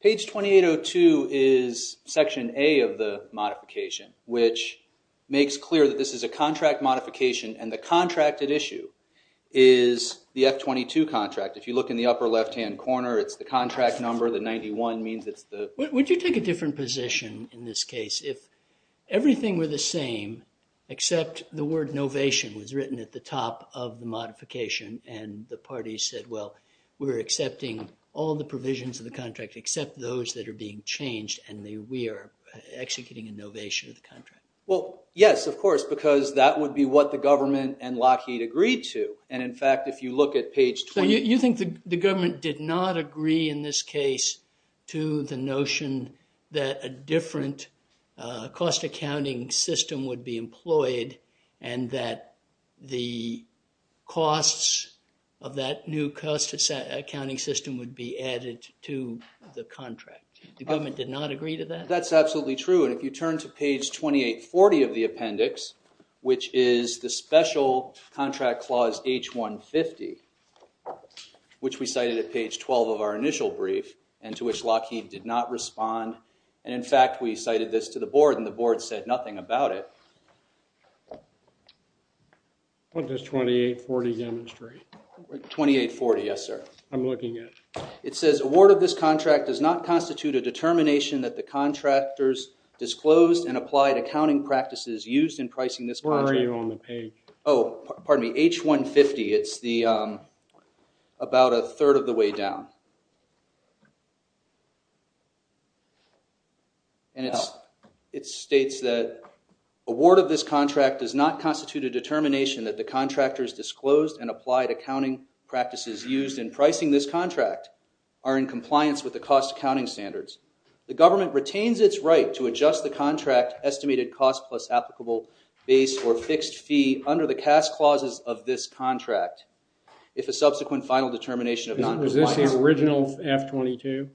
Page 2802 is section A of the modification, which makes clear that this is a contract modification and the contracted issue is the F-22 contract. If you look in the upper left-hand corner, it's the contract number, the 91 means it's the... Would you take a different position in this case if everything were the same except the word novation was written at the top of the modification and the parties said, well, we're accepting all the provisions of the contract except those that are being changed and we are executing a novation of the contract? Well, yes, of course, because that would be what the government and Lockheed agreed to. And in fact, if you look at page... You think the government did not agree in this case to the notion that a different cost accounting system would be employed and that the costs of that new cost accounting system would be added to the contract. The government did not agree to that? That's absolutely true. And if you turn to page 2840 of the appendix, which is the special contract clause H-150, which we cited at page 12 of our initial brief and to which Lockheed did not respond. And in fact, we cited this to the board and the board said nothing about it. What does 2840 demonstrate? 2840, yes, sir. I'm looking at it. It says, award of this contract does not constitute a determination that the contractors disclosed and applied accounting practices used in pricing this contract. Where are you on the page? Oh, pardon me, H-150. It's about a third of the way down. And it states that award of this contract does not constitute a determination that the are in compliance with the cost accounting standards. The government retains its right to adjust the contract estimated cost plus applicable base or fixed fee under the CAS clauses of this contract if a subsequent final determination of noncompliance. Is this the original F-22?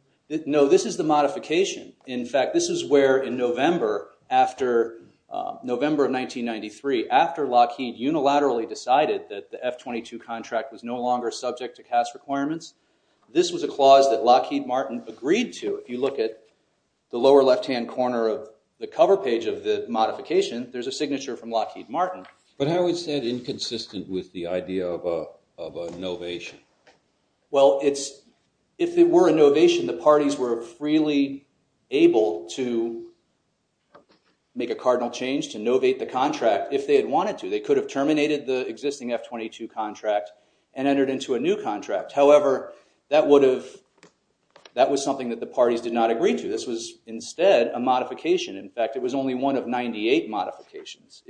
No, this is the modification. In fact, this is where in November of 1993, after Lockheed unilaterally decided that the F-22 contract was no longer subject to CAS requirements. This was a clause that Lockheed Martin agreed to. If you look at the lower left-hand corner of the cover page of the modification, there's a signature from Lockheed Martin. But how is that inconsistent with the idea of a novation? Well, if it were a novation, the parties were freely able to make a cardinal change to novate the contract if they had wanted to. They could have terminated the existing F-22 contract and entered into a new contract. However, that was something that the parties did not agree to. This was instead a modification. In fact, it was only one of 98 modifications.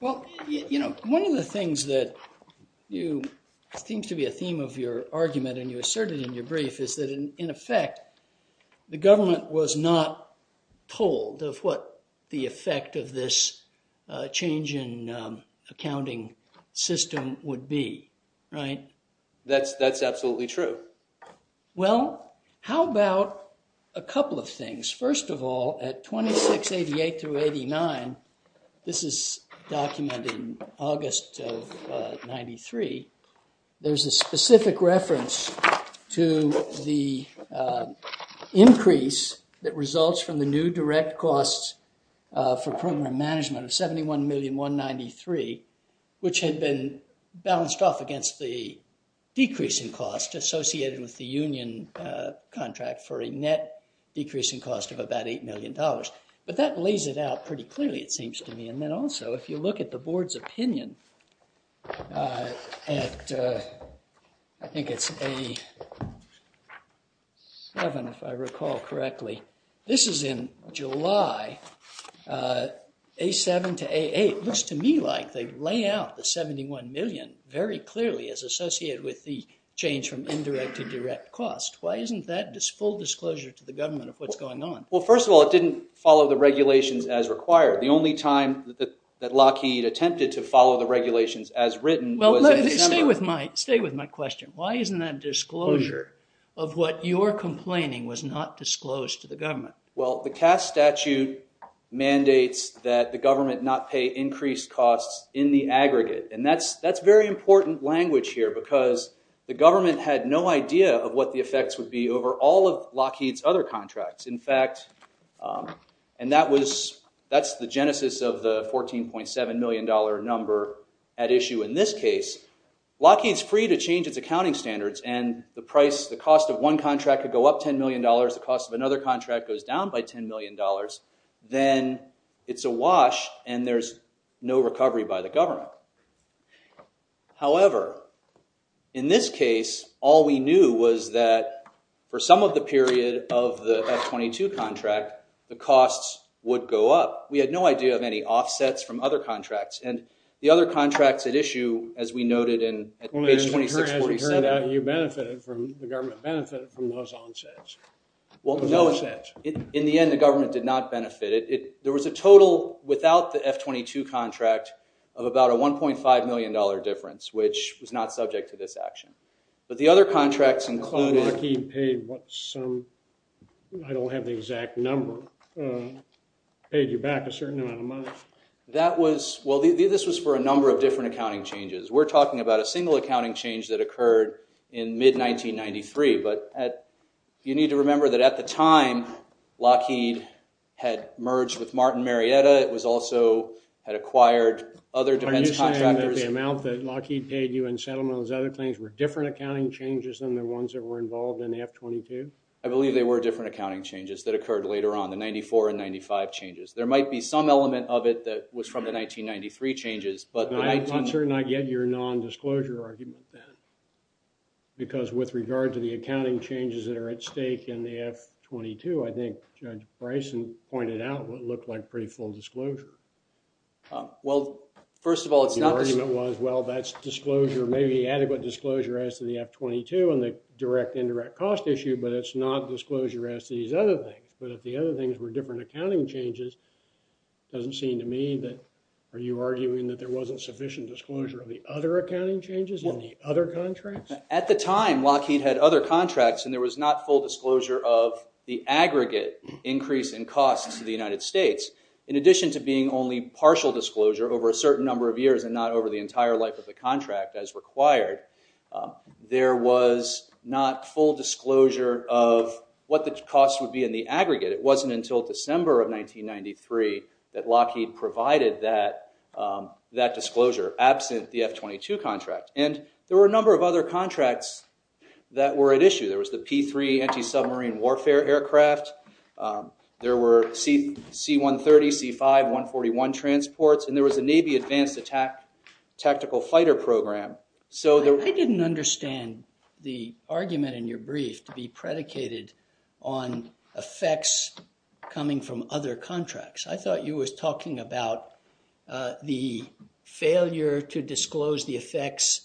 One of the things that seems to be a theme of your argument and you asserted in your brief is that, in effect, the government was not told of what the effect of this change in accounting system would be. Right. That's absolutely true. Well, how about a couple of things? First of all, at 2688-89, this is documented in August of 93, there's a specific reference to the increase that results from the new direct costs for program management of $71,193,000 which had been balanced off against the decrease in cost associated with the union contract for a net decrease in cost of about $8 million. But that lays it out pretty clearly, it seems to me. And then also, if you look at the board's opinion at, I think it's A-7 if I recall correctly, this is in July, A-7 to A-8, it looks to me like they lay out the $71 million very clearly as associated with the change from indirect to direct cost. Why isn't that full disclosure to the government of what's going on? Well, first of all, it didn't follow the regulations as required. The only time that Lockheed attempted to follow the regulations as written was in December. Stay with my question. Why isn't that disclosure of what you're complaining was not disclosed to the government? Well, the Cass statute mandates that the government not pay increased costs in the aggregate. And that's very important language here because the government had no idea of what the effects would be over all of Lockheed's other contracts. In fact, and that's the genesis of the $14.7 million number at issue in this case, Lockheed's free to change its accounting standards and the price, the cost of one contract could go up $10 million, the cost of another contract goes down by $10 million, then it's a wash and there's no recovery by the government. However, in this case, all we knew was that for some of the period of the F-22 contract, the costs would go up. We had no idea of any offsets from other contracts. And the other contracts at issue, as we noted in page 2647- As we heard out, you benefited from, the government benefited from those onsets. Well, no. In the end, the government did not benefit. There was a total without the F-22 contract of about a $1.5 million difference, which was not subject to this action. But the other contracts included- Oh, Lockheed paid what some, I don't have the exact number, paid you back a certain amount of money. That was, well, this was for a number of different accounting changes. We're talking about a single accounting change that occurred in mid-1993, but you need to remember that at the time, Lockheed had merged with Martin Marietta, it was also, had acquired other defense contractors- Are you saying that the amount that Lockheed paid you in settlement and those other things were different accounting changes than the ones that were involved in the F-22? I believe they were different accounting changes that occurred later on, the 94 and 95 changes. There might be some element of it that was from the 1993 changes, but the 19- I'm not certain I get your non-disclosure argument, Ben, because with regard to the accounting changes that are at stake in the F-22, I think Judge Bryson pointed out what looked like pretty full disclosure. Well, first of all, it's not- The argument was, well, that's disclosure, maybe adequate disclosure as to the F-22 and the direct indirect cost issue, but it's not disclosure as to these other things. But if the other things were different accounting changes, it doesn't seem to me that- Are you arguing that there wasn't sufficient disclosure of the other accounting changes in the other contracts? At the time, Lockheed had other contracts and there was not full disclosure of the aggregate increase in costs to the United States. In addition to being only partial disclosure over a certain number of years and not over the entire life of the contract as required, there was not full disclosure of what the cost would be in the aggregate. It wasn't until December of 1993 that Lockheed provided that disclosure absent the F-22 contract. And there were a number of other contracts that were at issue. There was the P-3 anti-submarine warfare aircraft. There were C-130, C-5, 141 transports, and there was a Navy advanced attack tactical fighter program. I didn't understand the argument in your brief to be predicated on effects coming from other contracts. I thought you was talking about the failure to disclose the effects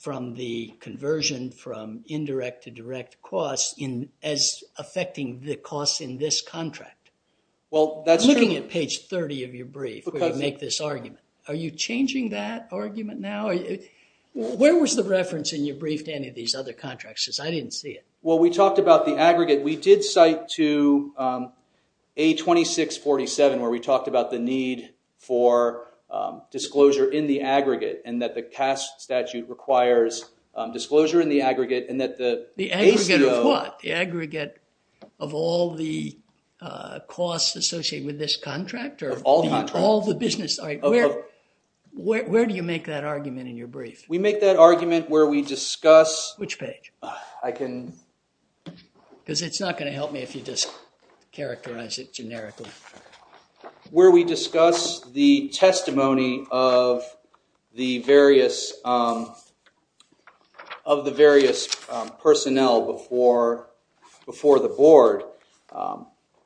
from the conversion from indirect to direct costs as affecting the costs in this contract. I'm looking at page 30 of your brief where you make this argument. Are you changing that argument now? Where was the reference in your brief to any of these other contracts? Because I didn't see it. Well, we talked about the aggregate. We did cite to A-2647 where we talked about the need for disclosure in the aggregate and that the CAST statute requires disclosure in the aggregate and that the ACO... The aggregate of what? The aggregate of all the costs associated with this contract or... Of all contracts. All the business... All right. Where do you make that argument in your brief? We make that argument where we discuss... Which page? I can... Because it's not going to help me if you just characterize it generically. Where we discuss the testimony of the various personnel before the board.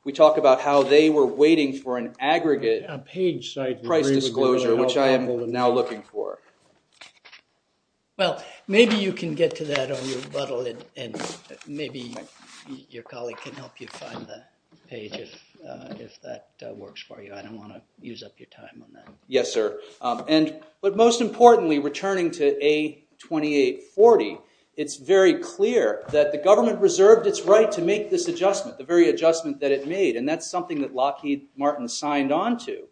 We talk about how they were waiting for an aggregate price disclosure, which I am now looking for. Well, maybe you can get to that on your buttle and maybe your colleague can help you find the page if that works for you. I don't want to use up your time on that. Yes, sir. But most importantly, returning to A-2840, it's very clear that the government reserved its right to make this adjustment, the very adjustment that it made. And that's something that Lockheed Martin signed on to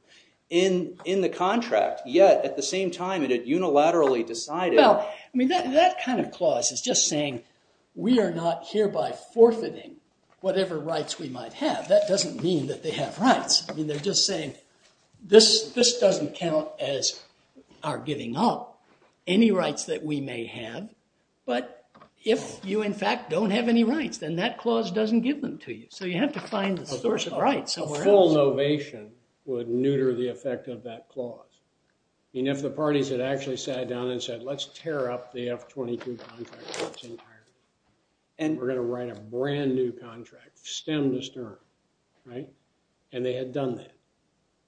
in the contract, yet at the same time it unilaterally decided... Well, that kind of clause is just saying we are not hereby forfeiting whatever rights we might have. That doesn't mean that they have rights. I mean, they're just saying this doesn't count as our giving up any rights that we may have. But if you, in fact, don't have any rights, then that clause doesn't give them to you. So you have to find a source of rights somewhere else. A full novation would neuter the effect of that clause. I mean, if the parties had actually sat down and said, let's tear up the F-22 contract in its entirety, we're going to write a brand new contract, stem to stern, and they had done that,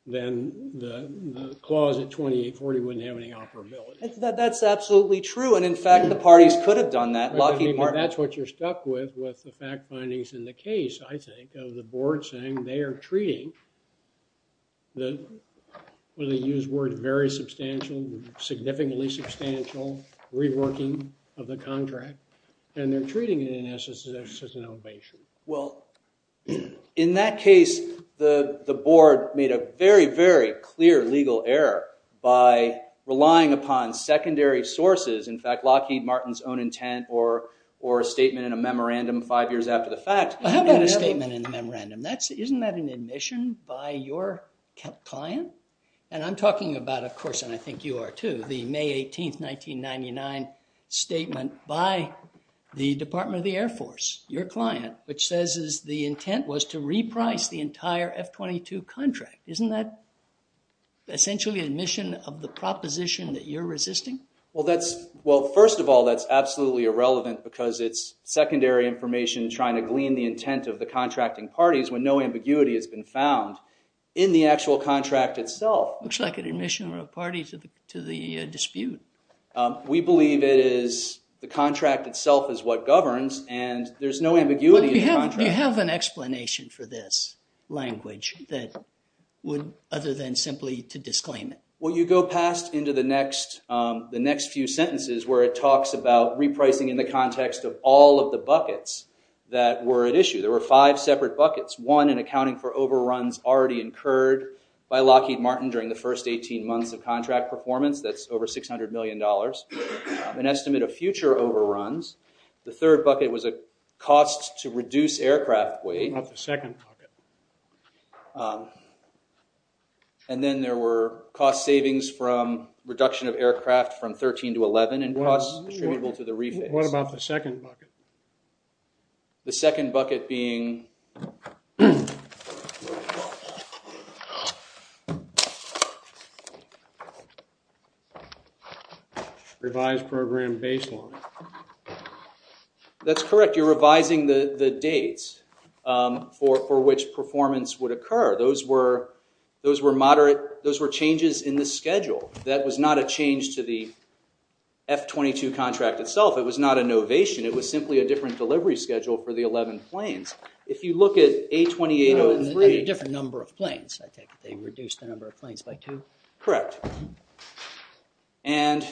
then the clause at A-2840 wouldn't have any operability. That's absolutely true. And, in fact, the parties could have done that, Lockheed Martin... That's what you're stuck with, with the fact findings in the case, I think, of the board saying they are treating the, with a used word, very substantial, significantly substantial reworking of the contract, and they're treating it in essence as an elevation. Well, in that case, the board made a very, very clear legal error by relying upon secondary sources, in fact, Lockheed Martin's own intent or a statement in a memorandum five years after the fact. How about a statement in the memorandum? Isn't that an admission by your client? And I'm talking about, of course, and I think you are too, the May 18th, 1999 statement by the Department of the Air Force, your client, which says the intent was to reprice the entire F-22 contract. Isn't that essentially an admission of the proposition that you're resisting? Well, that's, well, first of all, that's absolutely irrelevant because it's secondary information trying to glean the intent of the contracting parties when no ambiguity has been found in the actual contract itself. Looks like an admission of a party to the dispute. We believe it is the contract itself is what governs, and there's no ambiguity in the contract. Do you have an explanation for this language that would, other than simply to disclaim it? Well, you go past into the next few sentences where it talks about repricing in the context of all of the buckets that were at issue. There were five separate buckets, one in accounting for overruns already incurred by Lockheed Martin during the first 18 months of contract performance. That's over $600 million, an estimate of future overruns. The third bucket was a cost to reduce aircraft weight. What about the second bucket? And then there were cost savings from reduction of aircraft from 13 to 11 and costs attributable to the refit. What about the second bucket? The second bucket being revised program baseline. That's correct. You're revising the dates for which performance would occur. Those were changes in the schedule. That was not a change to the F-22 contract itself. It was not a novation. It was simply a different delivery schedule for the 11 planes. If you look at A-2803... And a different number of planes, I take it. They reduced the number of planes by two? Correct. And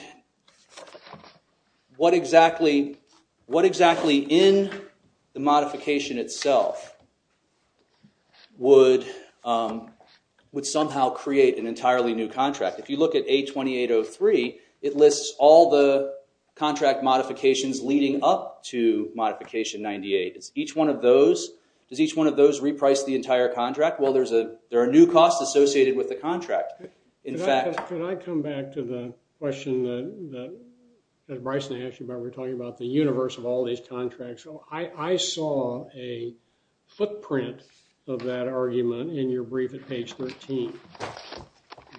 what exactly in the modification itself would somehow create an entirely new contract? If you look at A-2803, it lists all the contract modifications leading up to Modification 98. Each one of those... Does each one of those reprice the entire contract? Well, there are new costs associated with the contract. In fact... Can I come back to the question that Bryson asked you about, we're talking about the universe of all these contracts. I saw a footprint of that argument in your brief at page 13.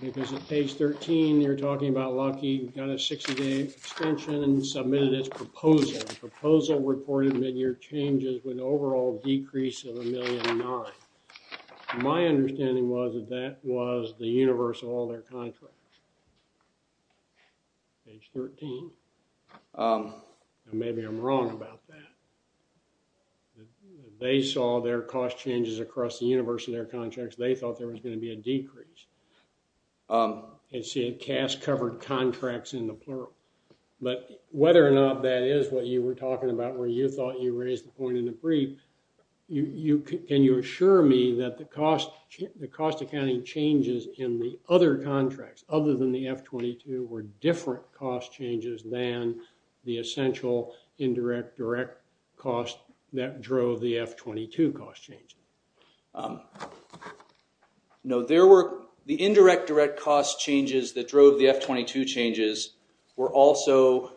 Because at page 13, you're talking about Lockheed got a 60-day extension and submitted its proposal. The proposal reported mid-year changes with an overall decrease of a million and nine. My understanding was that that was the universe of all their contracts, page 13. Maybe I'm wrong about that. They saw their cost changes across the universe of their contracts. They thought there was going to be a decrease. And see, it cast covered contracts in the plural. But whether or not that is what you were talking about where you thought you raised the point in the brief, can you assure me that the cost accounting changes in the other contracts other than the F-22 were different cost changes than the essential indirect direct cost that drove the F-22 cost change? No, there were... The indirect direct cost changes that drove the F-22 changes were also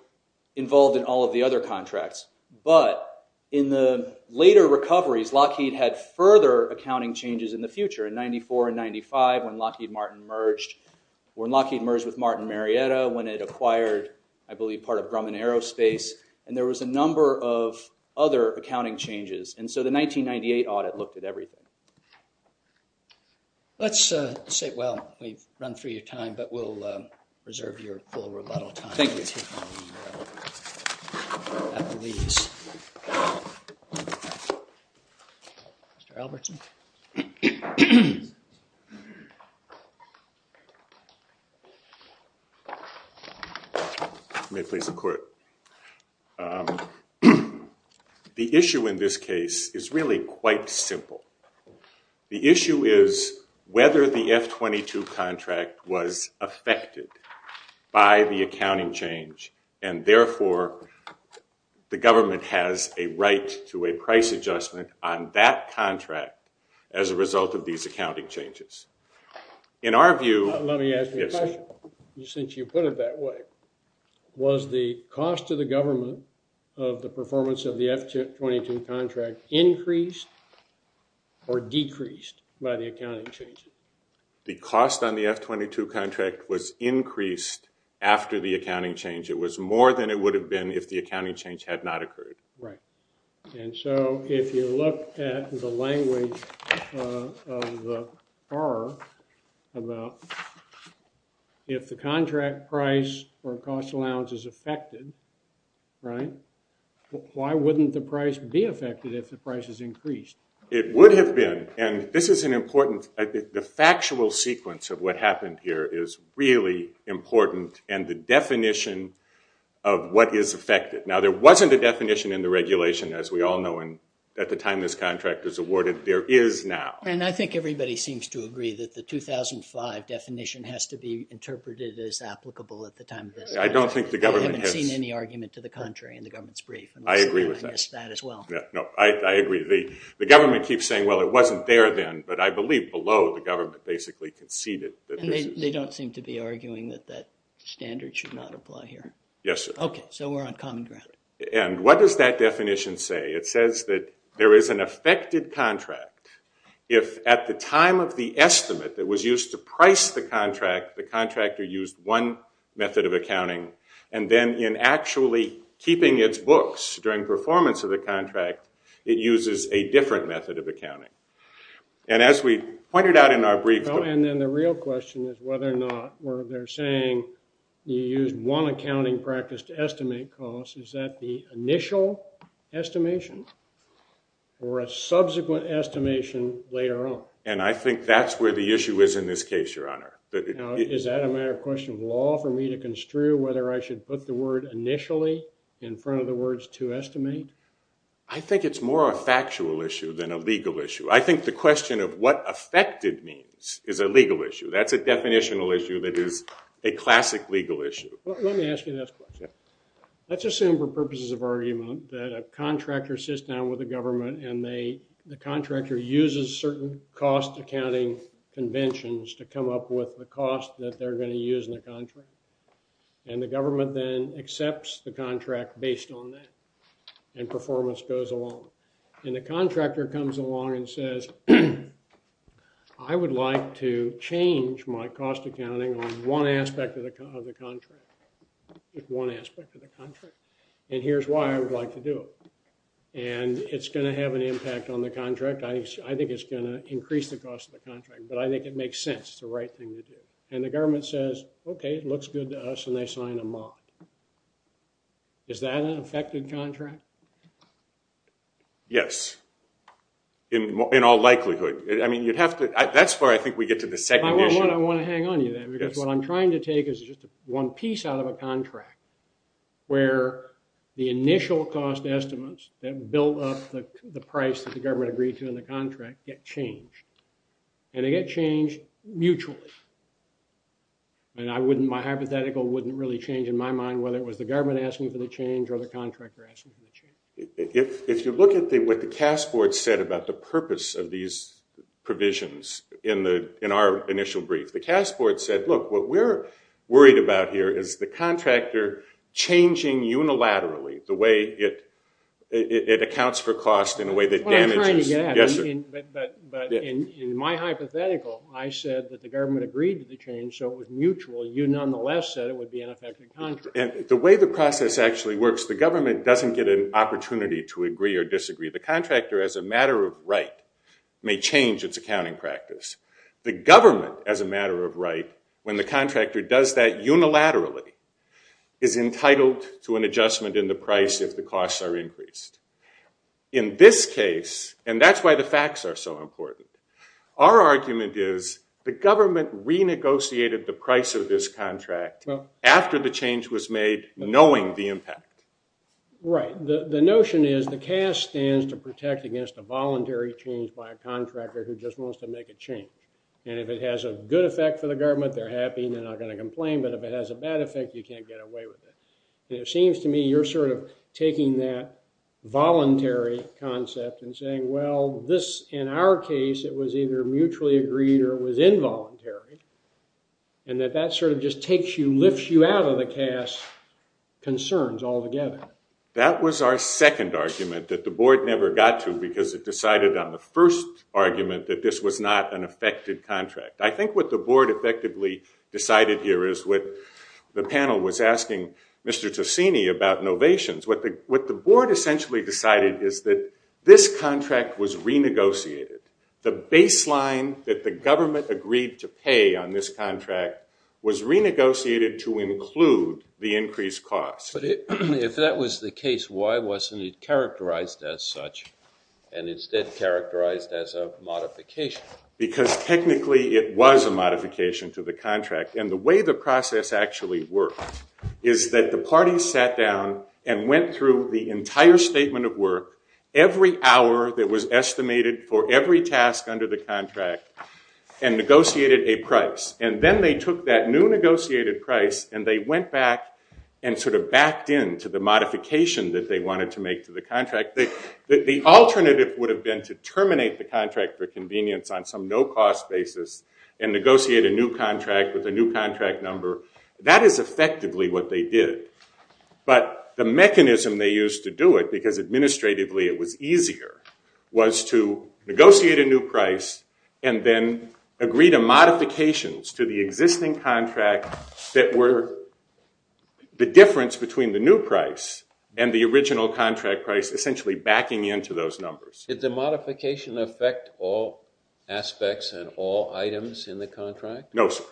involved in all of the other contracts. But in the later recoveries, Lockheed had further accounting changes in the future. In 94 and 95 when Lockheed merged with Martin Marietta when it acquired, I believe, part of Grumman Aerospace. And there was a number of other accounting changes. And so the 1998 audit looked at everything. Let's say... Well, we've run through your time, but we'll reserve your full rebuttal time to Applebee's. Mr. Albertson? May I please have a quote? The issue in this case is really quite simple. The issue is whether the F-22 contract was affected by the accounting change and therefore the government has a right to a price adjustment on that contract as a result of these accounting changes. In our view... Let me ask you a question, since you put it that way. Was the cost to the government of the performance of the F-22 contract increased or decreased by the accounting changes? The cost on the F-22 contract was increased after the accounting change. It was more than it would have been if the accounting change had not occurred. Right. And so if you look at the language of the FAR about if the contract price or cost allowance is affected, why wouldn't the price be affected if the price is increased? It would have been. And this is an important... The factual sequence of what happened here is really important. And the definition of what is affected. Now, there wasn't a definition in the regulation, as we all know, at the time this contract was awarded. There is now. And I think everybody seems to agree that the 2005 definition has to be interpreted as applicable at the time of this. I don't think the government has... I haven't seen any argument to the contrary in the government's brief. I agree with that. And I guess that as well. No, I agree. The government keeps saying, well, it wasn't there then. But I believe below, the government basically conceded that this is... And they don't seem to be arguing that that standard should not apply here. Yes, sir. Okay. So we're on common ground. And what does that definition say? It says that there is an affected contract if at the time of the estimate that was used to price the contract, the contractor used one method of accounting. And then in actually keeping its books during performance of the contract, it uses a different method of accounting. And as we pointed out in our brief... Well, and then the real question is whether or not where they're saying you use one accounting practice to estimate cost, is that the initial estimation or a subsequent estimation later on? And I think that's where the issue is in this case, Your Honor. Now, is that a matter of question of law for me to construe whether I should put the word initially in front of the words to estimate? I think it's more a factual issue than a legal issue. I think the question of what affected means is a legal issue. That's a definitional issue that is a classic legal issue. Let me ask you this question. Let's assume for purposes of argument that a contractor sits down with the government and the contractor uses certain cost accounting conventions to come up with the cost that they're going to use in the contract. And the government then accepts the contract based on that. And performance goes along. And the contractor comes along and says, I would like to change my cost accounting on one aspect of the contract. One aspect of the contract. And here's why I would like to do it. And it's going to have an impact on the contract. I think it's going to increase the cost of the contract. But I think it makes sense. It's the right thing to do. And the government says, okay, it looks good to us. And they sign a mock. Is that an affected contract? Yes. In all likelihood. That's where I think we get to the second issue. I want to hang on to you there. Because what I'm trying to take is just one piece out of a contract where the initial cost estimates that build up the price that the government agreed to in the contract get changed. And they get changed mutually. And my hypothetical wouldn't really change in my mind whether it was the government asking for the change or the contractor asking for the change. If you look at what the CAS board said about the purpose of these provisions in our initial brief, the CAS board said, look, what we're worried about here is the contractor changing unilaterally the way it accounts for cost in a way that damages. That's what I'm trying to get at. But in my hypothetical, I said that the government agreed to the change so it was mutual. You nonetheless said it would be an affected contract. And the way the process actually works, the government doesn't get an opportunity to agree or disagree. The contractor, as a matter of right, may change its accounting practice. The government, as a matter of right, when the contractor does that unilaterally, is entitled to an adjustment in the price if the costs are increased. In this case, and that's why the facts are so important, our argument is the government renegotiated the price of this contract after the change was made, knowing the impact. Right. The notion is the CAS stands to protect against a voluntary change by a contractor who just wants to make a change. And if it has a good effect for the government, they're happy. They're not going to complain. But if it has a bad effect, you can't get away with it. It seems to me you're sort of taking that voluntary concept and saying, well, in our And that that sort of just takes you, lifts you out of the CAS concerns altogether. That was our second argument that the board never got to because it decided on the first argument that this was not an affected contract. I think what the board effectively decided here is what the panel was asking Mr. Tocini about innovations. What the board essentially decided is that this contract was renegotiated. The baseline that the government agreed to pay on this contract was renegotiated to include the increased cost. But if that was the case, why wasn't it characterized as such and instead characterized as a modification? Because technically it was a modification to the contract. And the way the process actually worked is that the parties sat down and went through the entire statement of work every hour that was estimated for every task under the contract and negotiated a price. And then they took that new negotiated price and they went back and sort of backed into the modification that they wanted to make to the contract. The alternative would have been to terminate the contract for convenience on some no-cost basis and negotiate a new contract with a new contract number. That is effectively what they did. But the mechanism they used to do it, because administratively it was easier, was to negotiate a new price and then agree to modifications to the existing contract that were the difference between the new price and the original contract price, essentially backing into those numbers. Did the modification affect all aspects and all items in the contract? No, sir.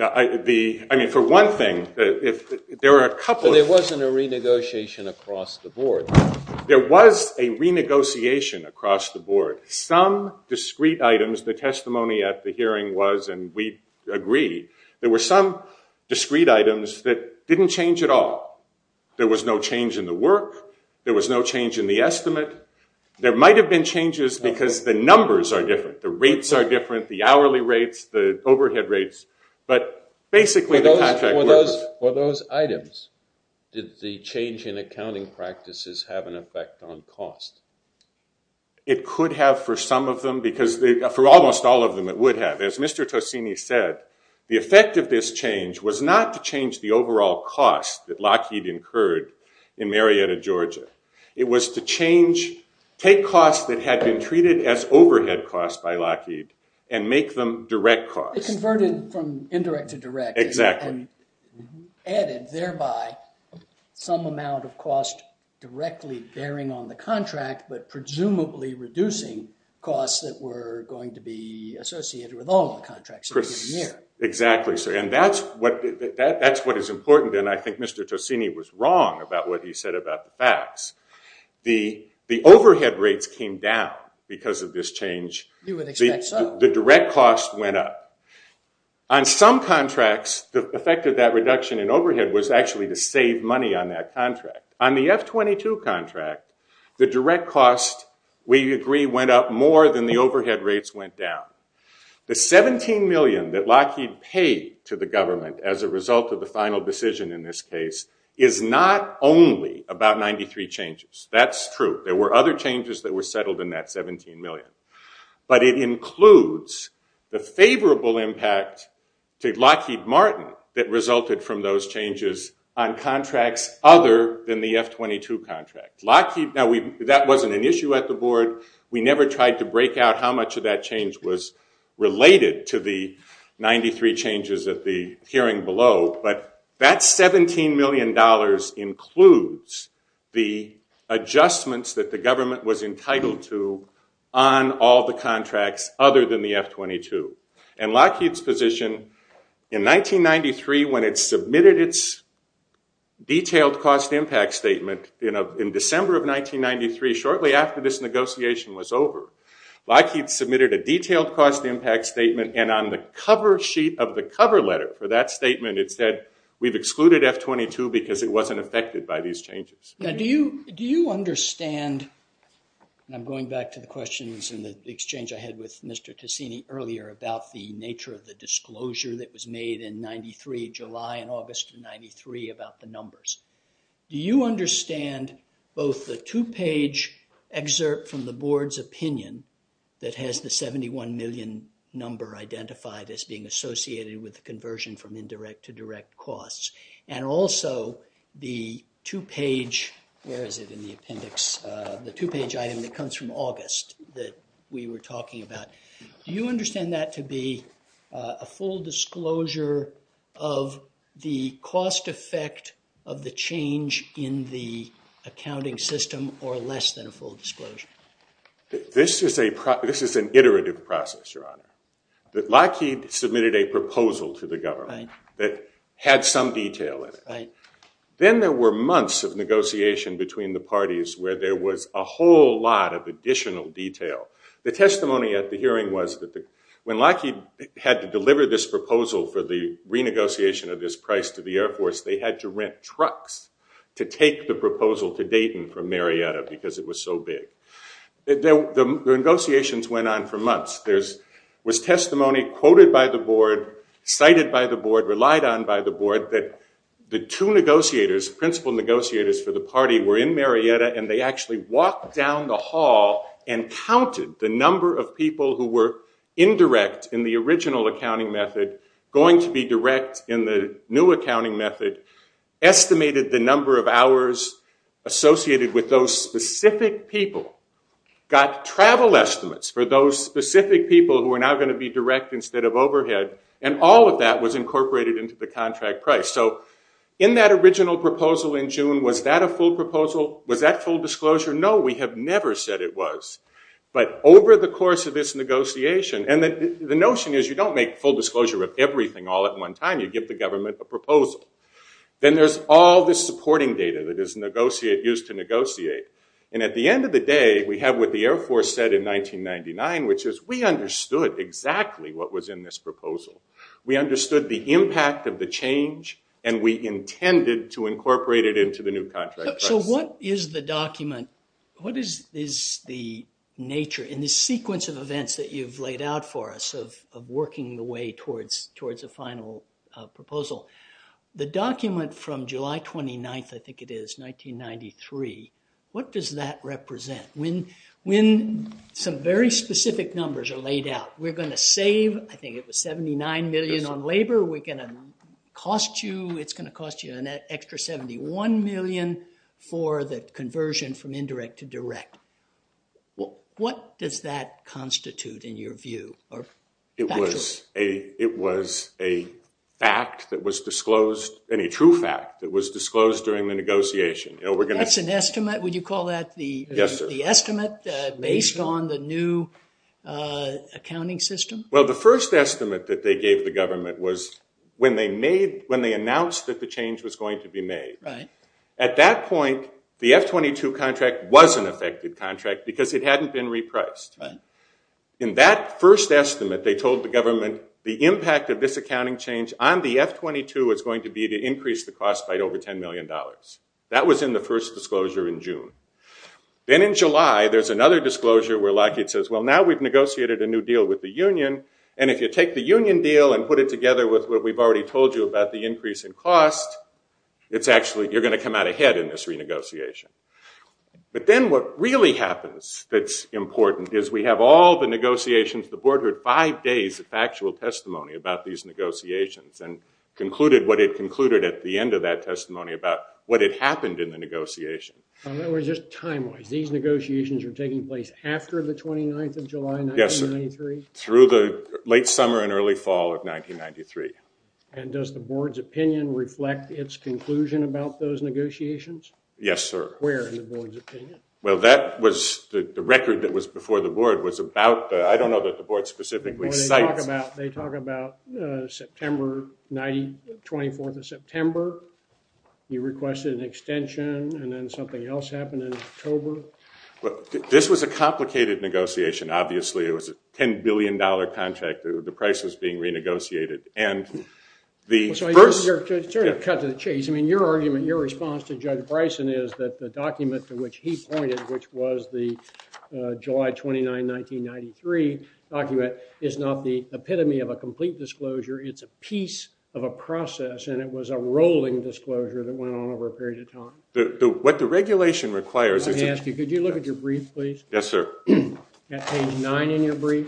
I mean, for one thing, there were a couple of... But there wasn't a renegotiation across the board. There was a renegotiation across the board. Some discrete items, the testimony at the hearing was, and we agree, there were some discrete items that didn't change at all. There was no change in the work. There was no change in the estimate. There might have been changes because the numbers are different. The rates are different, the hourly rates, the overhead rates, but basically the contract was... For those items, did the change in accounting practices have an effect on cost? It could have for some of them, because for almost all of them it would have. As Mr. Tosini said, the effect of this change was not to change the overall cost but it was to take costs that had been treated as overhead costs by Lockheed and make them direct costs. It converted from indirect to direct. Exactly. And added thereby some amount of cost directly bearing on the contract but presumably reducing costs that were going to be associated with all the contracts. Exactly, sir. And that's what is important, and I think Mr. Tosini was wrong about what he said about the facts. The overhead rates came down because of this change. You would expect so. The direct cost went up. On some contracts, the effect of that reduction in overhead was actually to save money on that contract. On the F-22 contract, the direct cost, we agree, went up more than the overhead rates went down. The $17 million that Lockheed paid to the government as a result of the final decision in this case is not only about 93 changes. That's true. There were other changes that were settled in that $17 million. But it includes the favorable impact to Lockheed Martin that resulted from those changes on contracts other than the F-22 contract. That wasn't an issue at the board. We never tried to break out how much of that change was related to the 93 changes at the hearing below. But that $17 million includes the adjustments that the government was entitled to on all the contracts other than the F-22. And Lockheed's position in 1993, when it submitted its detailed cost impact statement in December of 1993, shortly after this negotiation was over, Lockheed submitted a detailed cost impact statement. And on the cover sheet of the cover letter for that statement, it said we've excluded F-22 because it wasn't affected by these changes. Now, do you understand, and I'm going back to the questions and the exchange I had with Mr. Ticini earlier about the nature of the disclosure that was made in 93, July and August of 93, about the numbers. Do you understand both the two-page excerpt from the board's opinion that has the $71 million number identified as being associated with the conversion from indirect to direct costs and also the two-page item that comes from August that we were talking about? Do you understand that to be a full disclosure of the cost effect of the change in the accounting system or less than a full disclosure? This is an iterative process, Your Honor. Lockheed submitted a proposal to the government that had some detail in it. Then there were months of negotiation between the parties where there was a whole lot of additional detail. The testimony at the hearing was that when Lockheed had to deliver this proposal for the renegotiation of this price to the Air Force, they had to rent trucks to take the proposal to Dayton from Marietta because it was so big. The negotiations went on for months. There was testimony quoted by the board, cited by the board, relied on by the board, that the two negotiators, principal negotiators for the party, were in Marietta, and they actually walked down the hall and counted the number of people who were indirect in the original accounting method going to be direct in the new accounting method, estimated the number of hours associated with those specific people, got travel estimates for those specific people who were now going to be direct instead of overhead, and all of that was incorporated into the contract price. In that original proposal in June, was that a full proposal? Was that full disclosure? No, we have never said it was. But over the course of this negotiation, and the notion is you don't make full disclosure of everything all at one time. You give the government a proposal. Then there's all this supporting data that is used to negotiate, and at the end of the day, we have what the Air Force said in 1999, which is we understood exactly what was in this proposal. We understood the impact of the change, and we intended to incorporate it into the new contract price. So what is the document? What is the nature in this sequence of events that you've laid out for us of working the way towards a final proposal? The document from July 29th, I think it is, 1993, what does that represent? When some very specific numbers are laid out, we're going to save, I think it was 79 million on labor. Labor we're going to cost you, it's going to cost you an extra 71 million for the conversion from indirect to direct. What does that constitute in your view? It was a fact that was disclosed, and a true fact that was disclosed during the negotiation. That's an estimate? Would you call that the estimate based on the new accounting system? Well, the first estimate that they gave the government was when they announced that the change was going to be made. At that point, the F-22 contract was an affected contract because it hadn't been repriced. In that first estimate, they told the government the impact of this accounting change on the F-22 was going to be to increase the cost by over $10 million. That was in the first disclosure in June. Then in July, there's another disclosure where Lockheed says, well, now we've negotiated a new deal with the union, and if you take the union deal and put it together with what we've already told you about the increase in cost, you're going to come out ahead in this renegotiation. But then what really happens that's important is we have all the negotiations, the board heard five days of factual testimony about these negotiations and concluded what it concluded at the end of that testimony about what had happened in the negotiation. Just time-wise, these negotiations are taking place after the 29th of July 1993? Yes, sir. Through the late summer and early fall of 1993. And does the board's opinion reflect its conclusion about those negotiations? Yes, sir. Where in the board's opinion? Well, that was the record that was before the board was about, They talk about September 24th of September. You requested an extension, and then something else happened in October. But this was a complicated negotiation, obviously. It was a $10 billion contract. The price was being renegotiated. And the first- To cut to the chase, I mean, your argument, your response to Judge Bryson is that the document to which he pointed, which was the July 29, 1993 document, is not the epitome of a complete disclosure. It's a piece of a process. And it was a rolling disclosure that went on over a period of time. What the regulation requires is- Let me ask you, could you look at your brief, please? Yes, sir. Page 9 in your brief.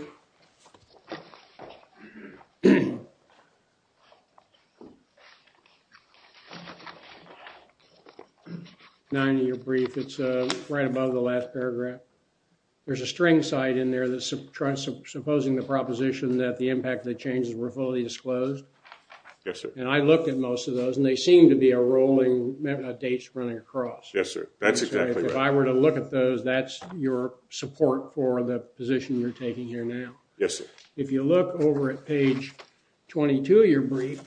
9 in your brief. It's right above the last paragraph. There's a string cite in there supposing the proposition that the impact of the changes were fully disclosed. Yes, sir. And I looked at most of those, and they seem to be a rolling dates running across. Yes, sir. That's exactly right. If I were to look at those, that's your support for the position you're taking here now. Yes, sir. If you look over at page 22 of your brief,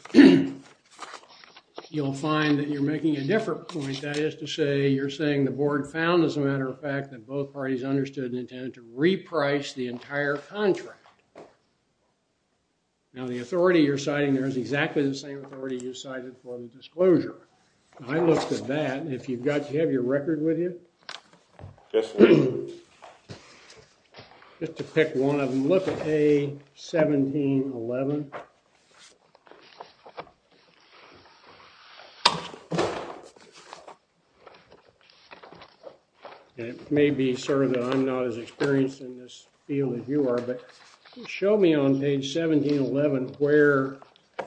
you'll find that you're making a different point. That is to say, you're saying the board found, as a matter of fact, that both parties understood and intended to reprice the entire contract. Now, the authority you're citing, there is exactly the same authority you cited for the disclosure. I looked at that, and if you've got- Do you have your record with you? Yes, sir. Just to pick one of them. Look at A1711. And it may be sort of that I'm not as experienced in this field as you are, but show me on page 1711 where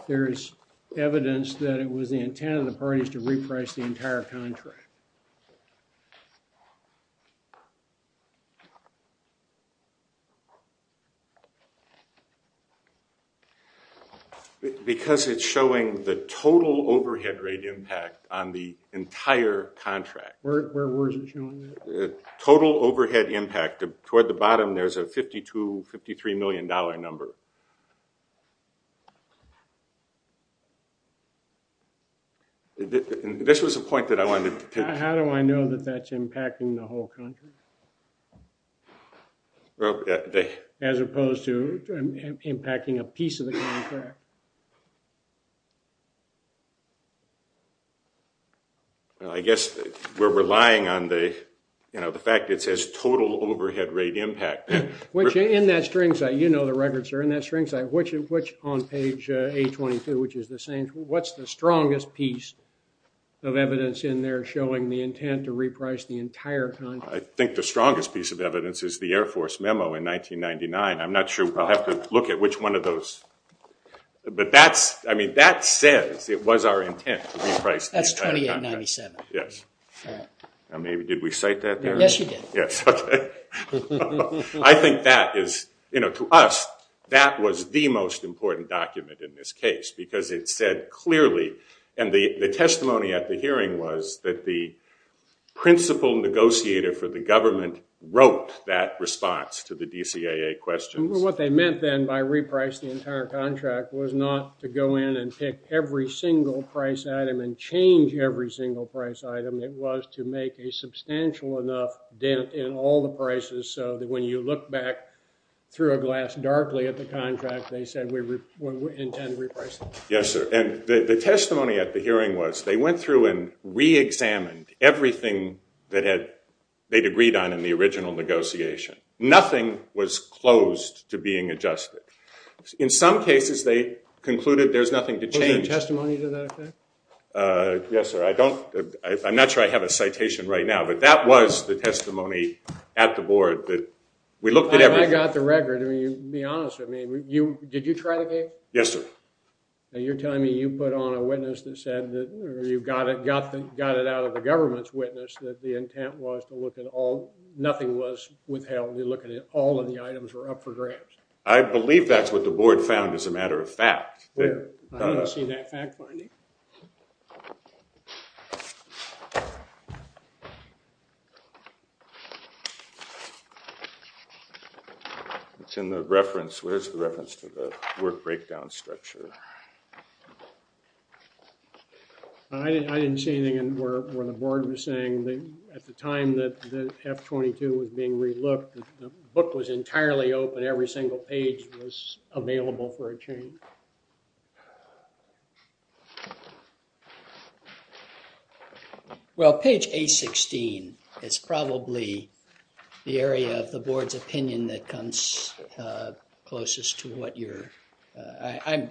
there is evidence that it was the intent of the parties to reprice the entire contract. Because it's showing the total overhead rate impact on the entire contract. Where is it showing that? Total overhead impact. Toward the bottom, there's a $52, $53 million number. This was a point that I wanted to- How do I know that that's impacting the whole contract? As opposed to impacting a piece of the contract. I guess we're relying on the fact that it says total overhead rate impact. Which, in that string site, you know the records are in that string site. Which, on page 822, which is the same, what's the strongest piece of evidence in there showing the intent to reprice the entire contract? I think the strongest piece of evidence is the Air Force memo in 1999. I'm not sure. I'll have to look at which one of those But that says it was our intent to reprice the entire contract. That's 2897. Yes. Now maybe, did we cite that there? Yes, you did. Yes, OK. I think that is, to us, that was the most important document in this case. Because it said clearly, and the testimony at the hearing was that the principal negotiator for the government wrote that response to the DCAA questions. What they meant then by reprice the entire contract was not to go in and pick every single price item and change every single price item. It was to make a substantial enough dent in all the prices so that when you look back through a glass darkly at the contract, they said we intend to reprice it. Yes, sir. And the testimony at the hearing was they went through and re-examined everything that they'd agreed on in the original negotiation. Nothing was closed to being adjusted. In some cases, they concluded there's nothing to change. Was there testimony to that effect? Yes, sir. I'm not sure I have a citation right now. But that was the testimony at the board. We looked at everything. I got the record. Be honest with me. Did you try the case? Yes, sir. Now you're telling me you put on a witness that said, or you got it out of the government's witness that the intent was to look at all, nothing was withheld. You're looking at all of the items were up for grabs. I believe that's what the board found as a matter of fact. I haven't seen that fact finding. It's in the reference. Where's the reference to the work breakdown structure? I didn't see anything where the board was saying that at the time that F-22 was being re-looked, the book was entirely open. Every single page was available for a change. Well, page A-16 is probably the area of the board's opinion that comes closest to what you're. I'm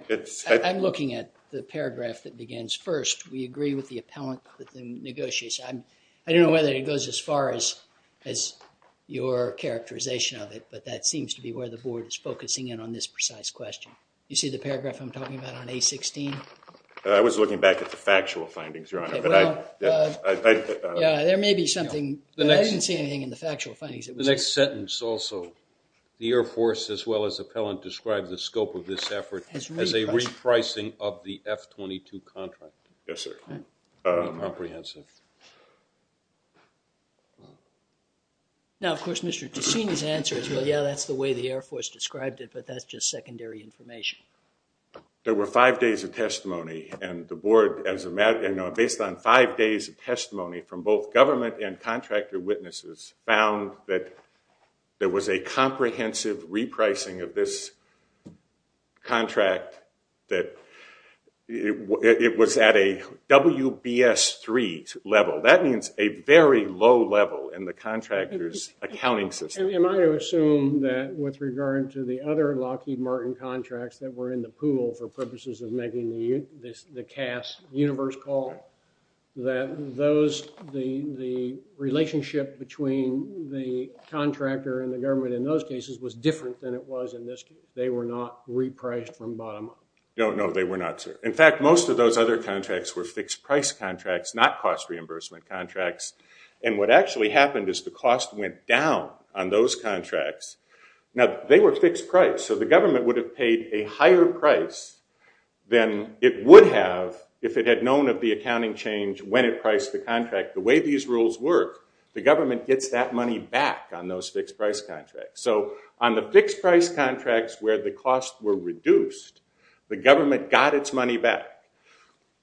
looking at the paragraph that begins first. We agree with the appellant that negotiates. I don't know whether it goes as far as your characterization of it, but that seems to be where the board is focusing in on this precise question. You see the paragraph I'm talking about on A-16? I was looking back at the factual findings, Your Honor. There may be something. I didn't see anything in the factual findings. The next sentence also. The Air Force, as well as appellant, described the scope of this effort as a repricing of the F-22 contract. Yes, sir. Comprehensive. Now, of course, Mr. Ticino's answer is, well, yeah, that's the way the Air Force described it, but that's just secondary information. There were five days of testimony, and the board, based on five days of testimony from both government and contractor witnesses, found that there was a comprehensive repricing of this contract that it was at a WBS3 level. That means a very low level in the contractor's accounting system. Am I to assume that with regard to the other Lockheed Martin contracts that were in the pool for purposes of making the CAS universe call, that the relationship between the contractor and the government in those cases was different than it was in this case? They were not repriced from bottom up? No, no, they were not, sir. In fact, most of those other contracts were fixed price contracts, not cost reimbursement contracts. And what actually happened is the cost went down on those contracts. Now, they were fixed price, so the government would have paid a higher price than it would have if it had known of the accounting change when it priced the contract. The way these rules work, the government gets that money back on those fixed price contracts. So on the fixed price contracts where the costs were reduced, the government got its money back.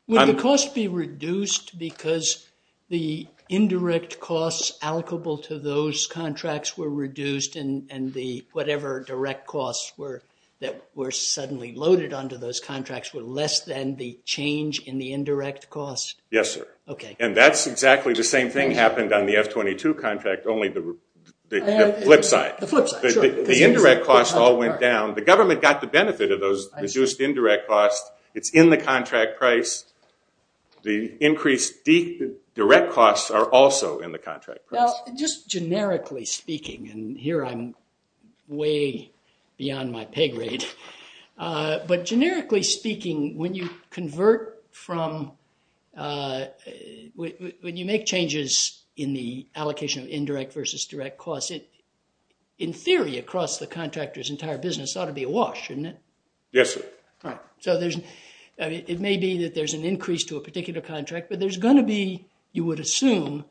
Would the cost be reduced because the indirect costs allocable to those contracts were reduced and the whatever direct costs that were suddenly loaded onto those contracts were less than the change in the indirect cost? Yes, sir. And that's exactly the same thing happened on the F-22 contract, only the flip side. The indirect costs all went down. The government got the benefit of those reduced indirect costs. It's in the contract price. The increased direct costs are also in the contract price. Just generically speaking, and here I'm way beyond my pay grade. But generically speaking, when you convert from, when you make changes in the allocation of indirect versus direct costs, in theory, across the contractor's entire business, it ought to be a wash, isn't it? Yes, sir. So it may be that there's an increase to a particular contract, but there's going to be, you would assume,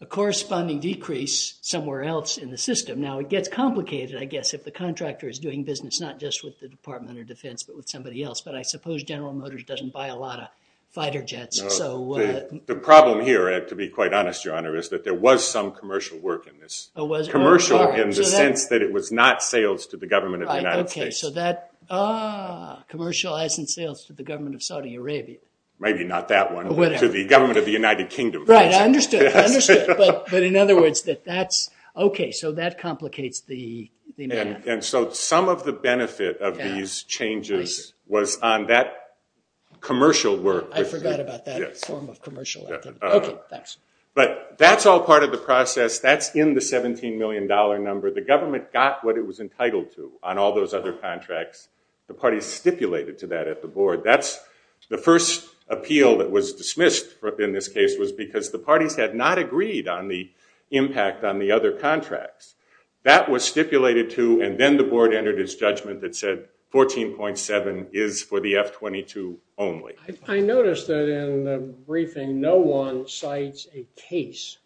a corresponding decrease somewhere else in the system. Now, it gets complicated, I guess, if the contractor is doing business not just with the Department of Defense but with somebody else. But I suppose General Motors doesn't buy a lot of fighter jets. The problem here, to be quite honest, Your Honor, is that there was some commercial work in this. Commercial in the sense that it was not sales to the government of the United States. Commercializing sales to the government of Saudi Arabia. Maybe not that one. To the government of the United Kingdom. Right, I understood. I understood. But in other words, that that's, OK, so that complicates the matter. And so some of the benefit of these changes was on that commercial work. I forgot about that form of commercial. But that's all part of the process. That's in the $17 million number. The government got what it was entitled to on all those other contracts. The parties stipulated to that at the board. That's the first appeal that was dismissed in this case was because the parties had not agreed on the impact on the other contracts. That was stipulated to, and then the board entered its judgment that said 14.7 is for the F-22 only. I noticed that in the briefing, no one cites a case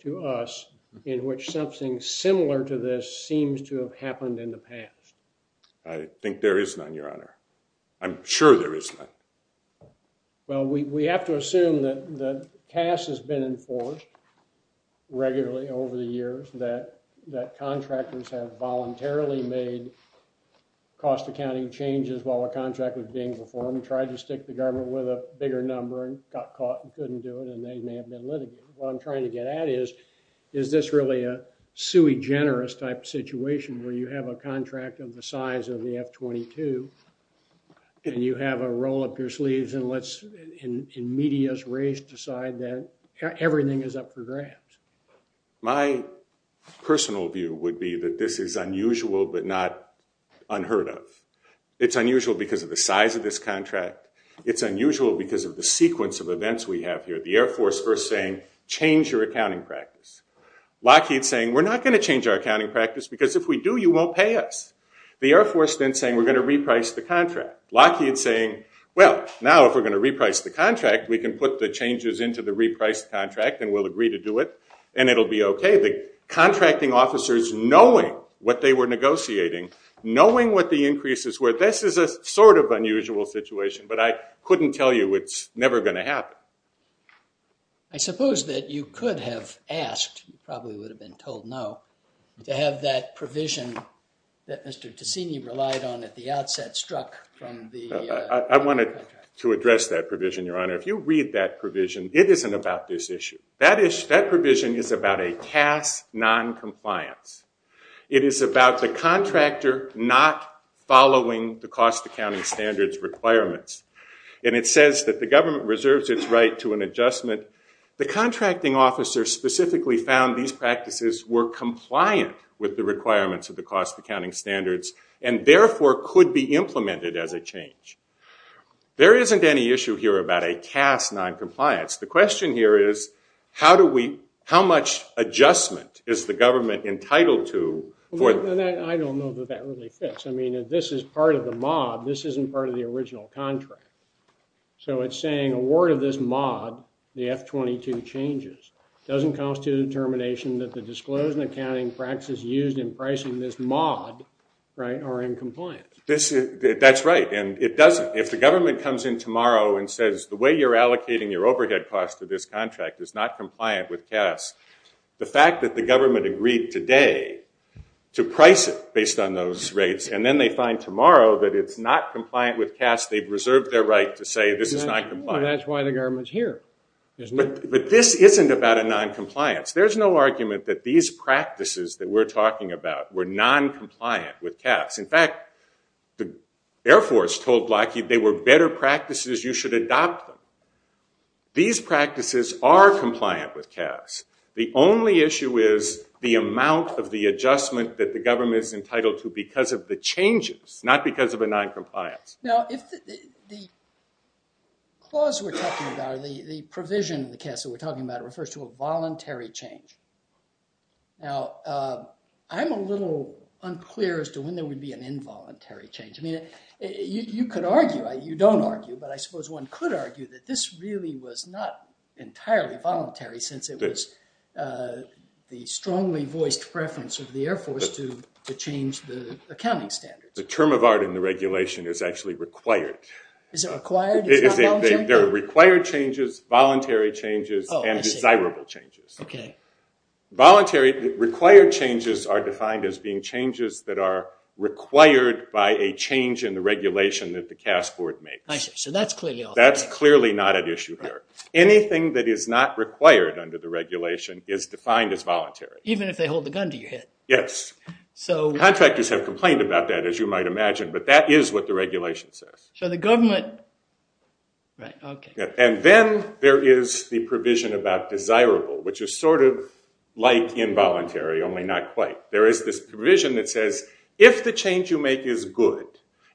to us in which something similar to this seems to have happened in the past. I think there is none, Your Honor. I'm sure there is none. Well, we have to assume that CAS has been enforced regularly over the years, that contractors have voluntarily made cost accounting changes while a contract was being performed, tried to stick the government with a bigger number, and got caught and couldn't do it, and they may have been litigated. What I'm trying to get at is, is this really a sui generis type situation where you have a contract of the size of the F-22 and you have a roll up your sleeves and let's, in media's race, decide that everything is up for grabs? My personal view would be that this is unusual but not unheard of. It's unusual because of the size of this contract. It's unusual because of the sequence of events we have here. The Air Force first saying, change your accounting practice. Lockheed saying, we're not going to change our accounting practice because if we do, you won't pay us. The Air Force then saying, we're going to reprice the contract. Lockheed saying, well, now if we're going to reprice the contract, we can put the changes into the repriced contract and we'll agree to do it and it'll be OK. The contracting officers knowing what they were negotiating, knowing what the increases were, this is a sort of unusual situation. But I couldn't tell you it's never going to happen. I suppose that you could have asked, you probably would have been told no, to have that provision that Mr. Ticini relied on at the outset struck from the contract. I wanted to address that provision, Your Honor. If you read that provision, it isn't about this issue. That provision is about a TAS non-compliance. It is about the contractor not following the cost accounting standards requirements. And it says that the government reserves its right to an adjustment. The contracting officer specifically found these practices were compliant with the requirements of the cost accounting standards and therefore could be implemented as a change. There isn't any issue here about a TAS non-compliance. The question here is, how much adjustment is the government entitled to? I don't know that that really fits. If this is part of the mod, this isn't part of the original contract. So it's saying, a word of this mod, the F-22 changes, doesn't constitute a determination that the disclosed accounting practices used in pricing this mod are in compliance. That's right. And it doesn't. If the government comes in tomorrow and says, the way you're allocating your overhead cost to this contract is not compliant with TAS, the fact that the government agreed today to price it based on those rates, and then they find tomorrow that it's not compliant with TAS, they've reserved their right to say this is not compliant. That's why the government's here. But this isn't about a non-compliance. There's no argument that these practices that we're talking about were non-compliant with TAS. In fact, the Air Force told Lockheed they were better practices. You should adopt them. These practices are compliant with TAS. The only issue is the amount of the adjustment that the government is entitled to because of the changes, not because of a non-compliance. Now, the clause we're talking about, the provision in the CAS that we're talking about refers to a voluntary change. Now, I'm a little unclear as to when there would be an involuntary change. You could argue. You don't argue. But I suppose one could argue that this really was not entirely voluntary since it was the strongly voiced preference of the Air Force to change the accounting standards. The term of art in the regulation is actually required. Is it required? It's not voluntary? They're required changes, voluntary changes, and desirable changes. OK. Voluntary, required changes are defined as being changes that are required by a change in the regulation that the CAS Board makes. I see. So that's clearly off the table. That's clearly not at issue here. Anything that is not required under the regulation is defined as voluntary. Even if they hold the gun to your head? Yes. Contractors have complained about that, as you might imagine, but that is what the regulation says. So the government, right, OK. And then there is the provision about desirable, which is sort of like involuntary, only not quite. There is this provision that says, if the change you make is good,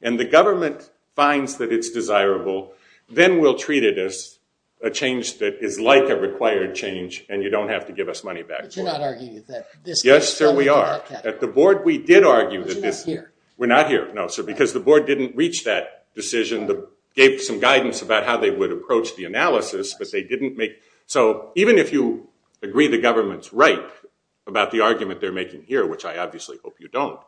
and the government finds that it's desirable, then we'll treat it as a change that is like a required change, and you don't have to give us money back for it. But you're not arguing that this case is coming to that category. Yes, sir, we are. At the board, we did argue that this. But you're not here. We're not here, no, sir, because the board didn't reach that decision. They gave some guidance about how they would approach the analysis, but they didn't make. So even if you agree the government's right about the argument they're making here, which I obviously hope you don't.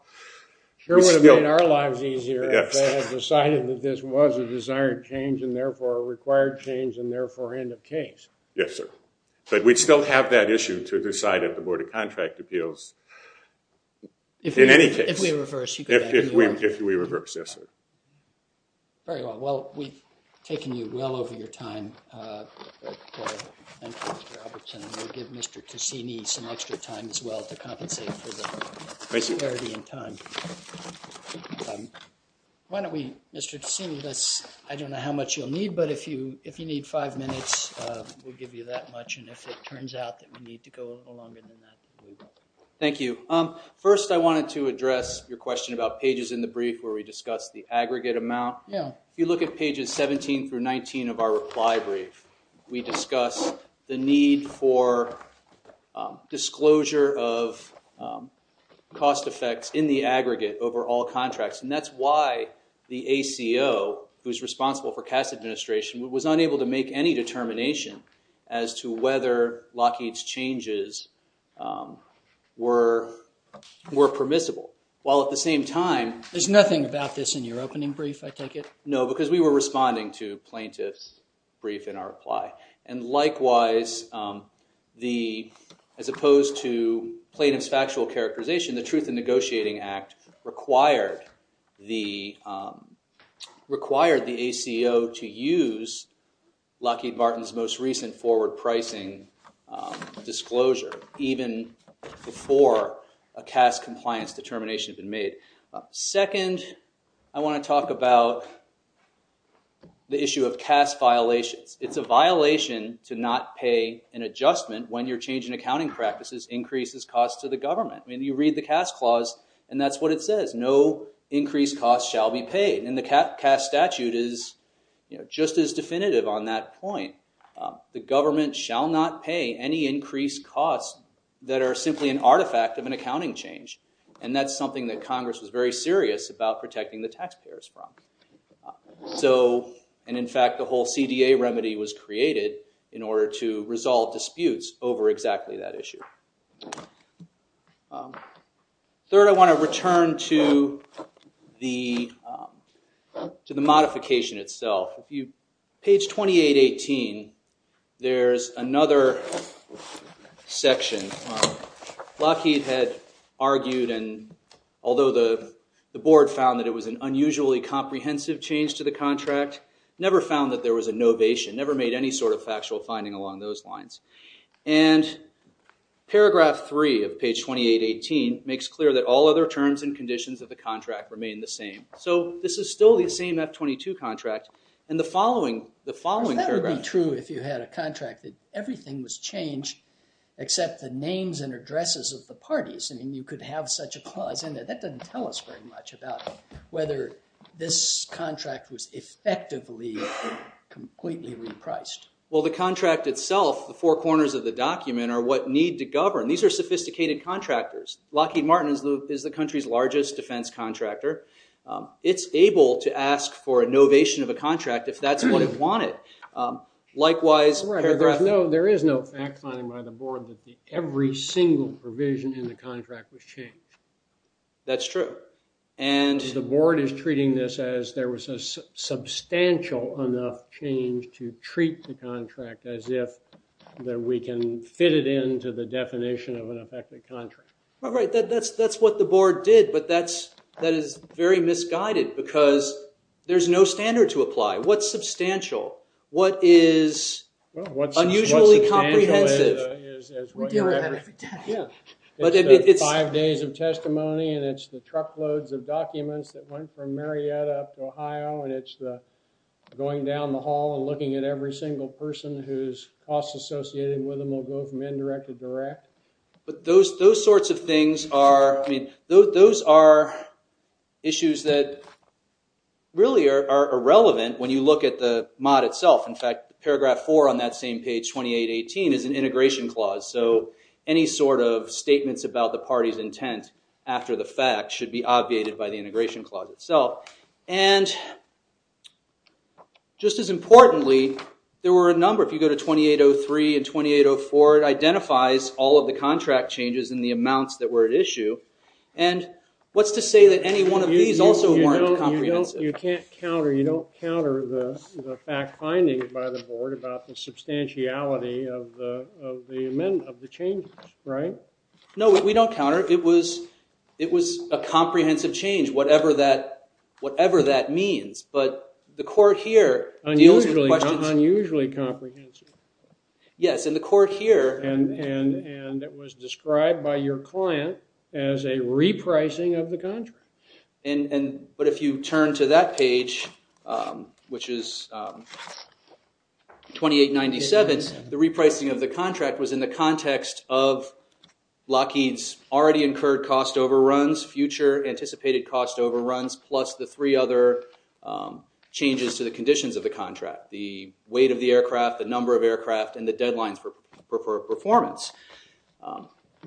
Sure would have made our lives easier if they had decided that this was a desired change, and therefore, a required change, and therefore, end of case. Yes, sir. But we'd still have that issue to decide at the Board of Contract Appeals in any case. If we reverse. If we reverse, yes, sir. Very well. Well, we've taken you well over your time. Thank you, Mr. Albertson. And we'll give Mr. Cassini some extra time as well to compensate for the parity in time. Why don't we, Mr. Cassini, I don't know how much you'll need, but if you need five minutes, we'll give you that much. And if it turns out that we need to go a little longer than that, we will. Thank you. First, I wanted to address your question about pages in the brief where we discussed the aggregate amount. If you look at pages 17 through 19 of our reply brief, we discuss the need for disclosure of cost effects in the aggregate over all contracts. And that's why the ACO, who's responsible for cash administration, was unable to make any determination as to whether Lockheed's changes were permissible. While at the same time, there's nothing about this in your opening brief, I take it? No, because we were responding to plaintiff's brief in our reply. And likewise, as opposed to plaintiff's factual characterization, the Truth in Negotiating Act required the ACO to use Lockheed Martin's most recent forward pricing disclosure, even before a CAS compliance determination had been made. Second, I want to talk about the issue of CAS violations. It's a violation to not pay an adjustment when you're changing accounting practices increases costs to the government. I mean, you read the CAS clause, and that's what it says. No increased costs shall be paid. And the CAS statute is just as definitive on that point. The government shall not pay any increased costs that are simply an artifact of an accounting change. And that's something that Congress was very serious about protecting the taxpayers from. And in fact, the whole CDA remedy was created in order to resolve disputes over exactly that issue. Third, I want to return to the modification itself. Page 2818, there's another section. Lockheed had argued, and although the board found that it was an unusually comprehensive change to the contract, never found that there was a novation, never made any sort of factual finding along those lines. And paragraph three of page 2818 makes clear that all other terms and conditions of the contract remain the same. So this is still the same F-22 contract. And the following paragraph. That would be true if you had a contract that everything was changed except the names and addresses of the parties. And you could have such a clause in there. That doesn't tell us very much about whether this contract was effectively completely repriced. Well, the contract itself, the four corners of the document, are what need to govern. These are sophisticated contractors. Lockheed Martin is the country's largest defense contractor. It's able to ask for a novation of a contract if that's what it wanted. Likewise, paragraph four. There is no fact finding by the board that every single provision in the contract was changed. That's true. The board is treating this as there was a substantial enough change to treat the contract as if we can fit it into the definition of an effective contract. That's what the board did. But that is very misguided because there's no standard to apply. What's substantial? What is unusually comprehensive? We deal with that every day. It's five days of testimony. And it's the truckloads of documents that went from Marietta up to Ohio. And it's the going down the hall and looking at every single person whose costs associated with them will go from indirect to direct. But those sorts of things are issues that really are irrelevant when you look at the mod itself. In fact, paragraph four on that same page, 2818, is an integration clause. So any sort of statements about the party's intent after the fact should be obviated by the integration clause itself. And just as importantly, there were a number. If you go to 2803 and 2804, it identifies all of the contract changes and the amounts that were at issue. And what's to say that any one of these also weren't comprehensive? You can't counter. You don't counter the fact findings by the board about the substantiality of the changes, right? No, we don't counter. It was a comprehensive change, whatever that means. But the court here deals with questions. Unusually comprehensive. Yes, and the court here. And it was described by your client as a repricing of the contract. But if you turn to that page, which is 2897, the repricing of the contract was in the context of Lockheed's already incurred cost overruns, future anticipated cost overruns, plus the three other changes to the conditions of the contract. The weight of the aircraft, the number of aircraft, and the deadlines for performance.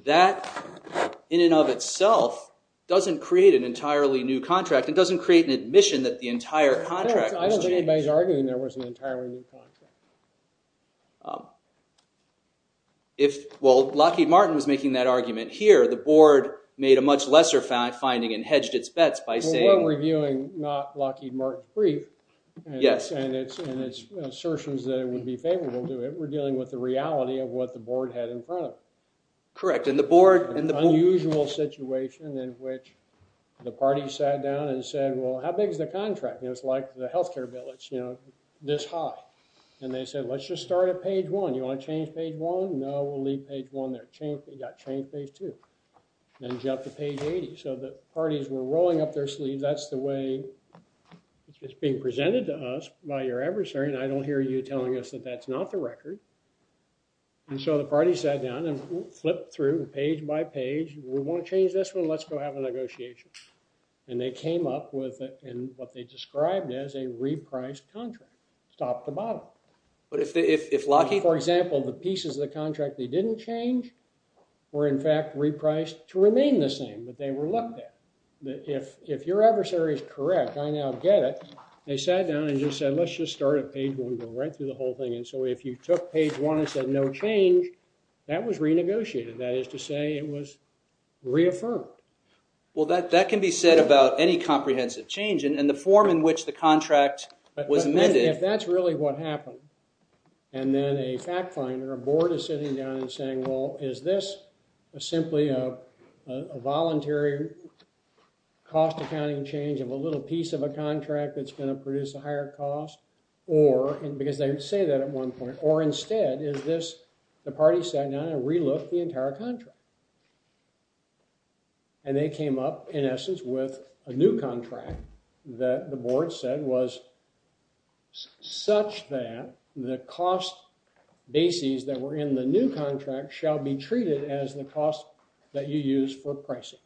That, in and of itself, doesn't create an entirely new contract. It doesn't create an admission that the entire contract was changed. I don't think anybody's arguing there was an entirely new contract. Well, Lockheed Martin was making that argument here. The board made a much lesser finding and hedged its bets by saying. But we're reviewing not Lockheed Martin free. Yes. And it's assertions that it would be favorable to it. We're dealing with the reality of what the board had in front of it. Correct. And the board and the board. An unusual situation in which the party sat down and said, well, how big is the contract? It's like the health care bill. It's this high. And they said, let's just start at page one. You want to change page one? No, we'll leave page one there. We've got to change page two. Then jump to page 80. So the parties were rolling up their sleeves. That's the way it's being presented to us by your adversary. And I don't hear you telling us that that's not the record. And so the party sat down and flipped through page by page. We want to change this one. Let's go have a negotiation. And they came up with what they described as a repriced contract, top to bottom. For example, the pieces of the contract they didn't change were, in fact, repriced to remain the same that they were looked at. If your adversary is correct, I now get it. They sat down and just said, let's just start at page one. We'll go right through the whole thing. And so if you took page one and said no change, that was renegotiated. That is to say it was reaffirmed. Well, that can be said about any comprehensive change. And the form in which the contract was amended. But if that's really what happened, and then a fact finder, a board, is sitting down and saying, well, is this simply a voluntary cost accounting change of a little piece of a contract that's going to produce a higher cost? Or, because they would say that at one point, or instead is this the party sat down and re-looked the entire contract. And they came up, in essence, with a new contract that the board said was such that the cost bases that were in the new contract shall be treated as the cost that you use for pricing.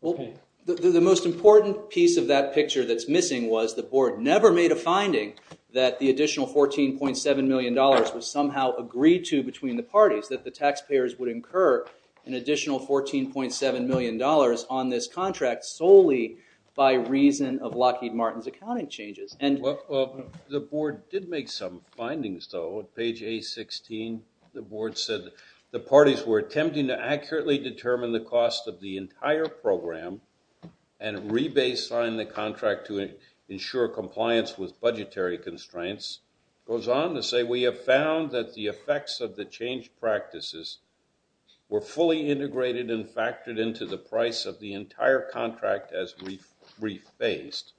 Well, the most important piece of that picture that's missing was the board never made a finding that the additional $14.7 million was somehow agreed to between the parties. That the taxpayers would incur an additional $14.7 million on this contract solely by reason of Lockheed Martin's accounting changes. The board did make some findings, though. On page A16, the board said the parties were attempting to accurately determine the cost of the entire program and re-baseline the contract to ensure compliance with budgetary constraints. It goes on to say, we have found that the effects of the change practices were fully integrated and factored into the price of the entire contract as re-phased.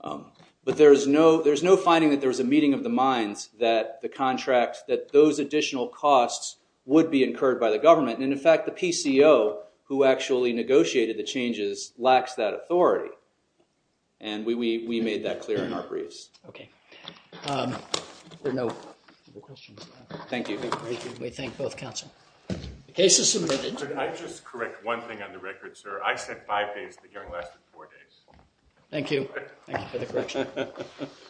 But there's no finding that there was a meeting of the minds that the contract, that those additional costs would be incurred by the government. And in fact, the PCO who actually negotiated the changes lacks that authority. And we made that clear in our briefs. OK. There are no more questions. Thank you. We thank both counsel. The case is submitted. Could I just correct one thing on the record, sir? I said five days. The hearing lasted four days. Thank you. Thank you for the correction.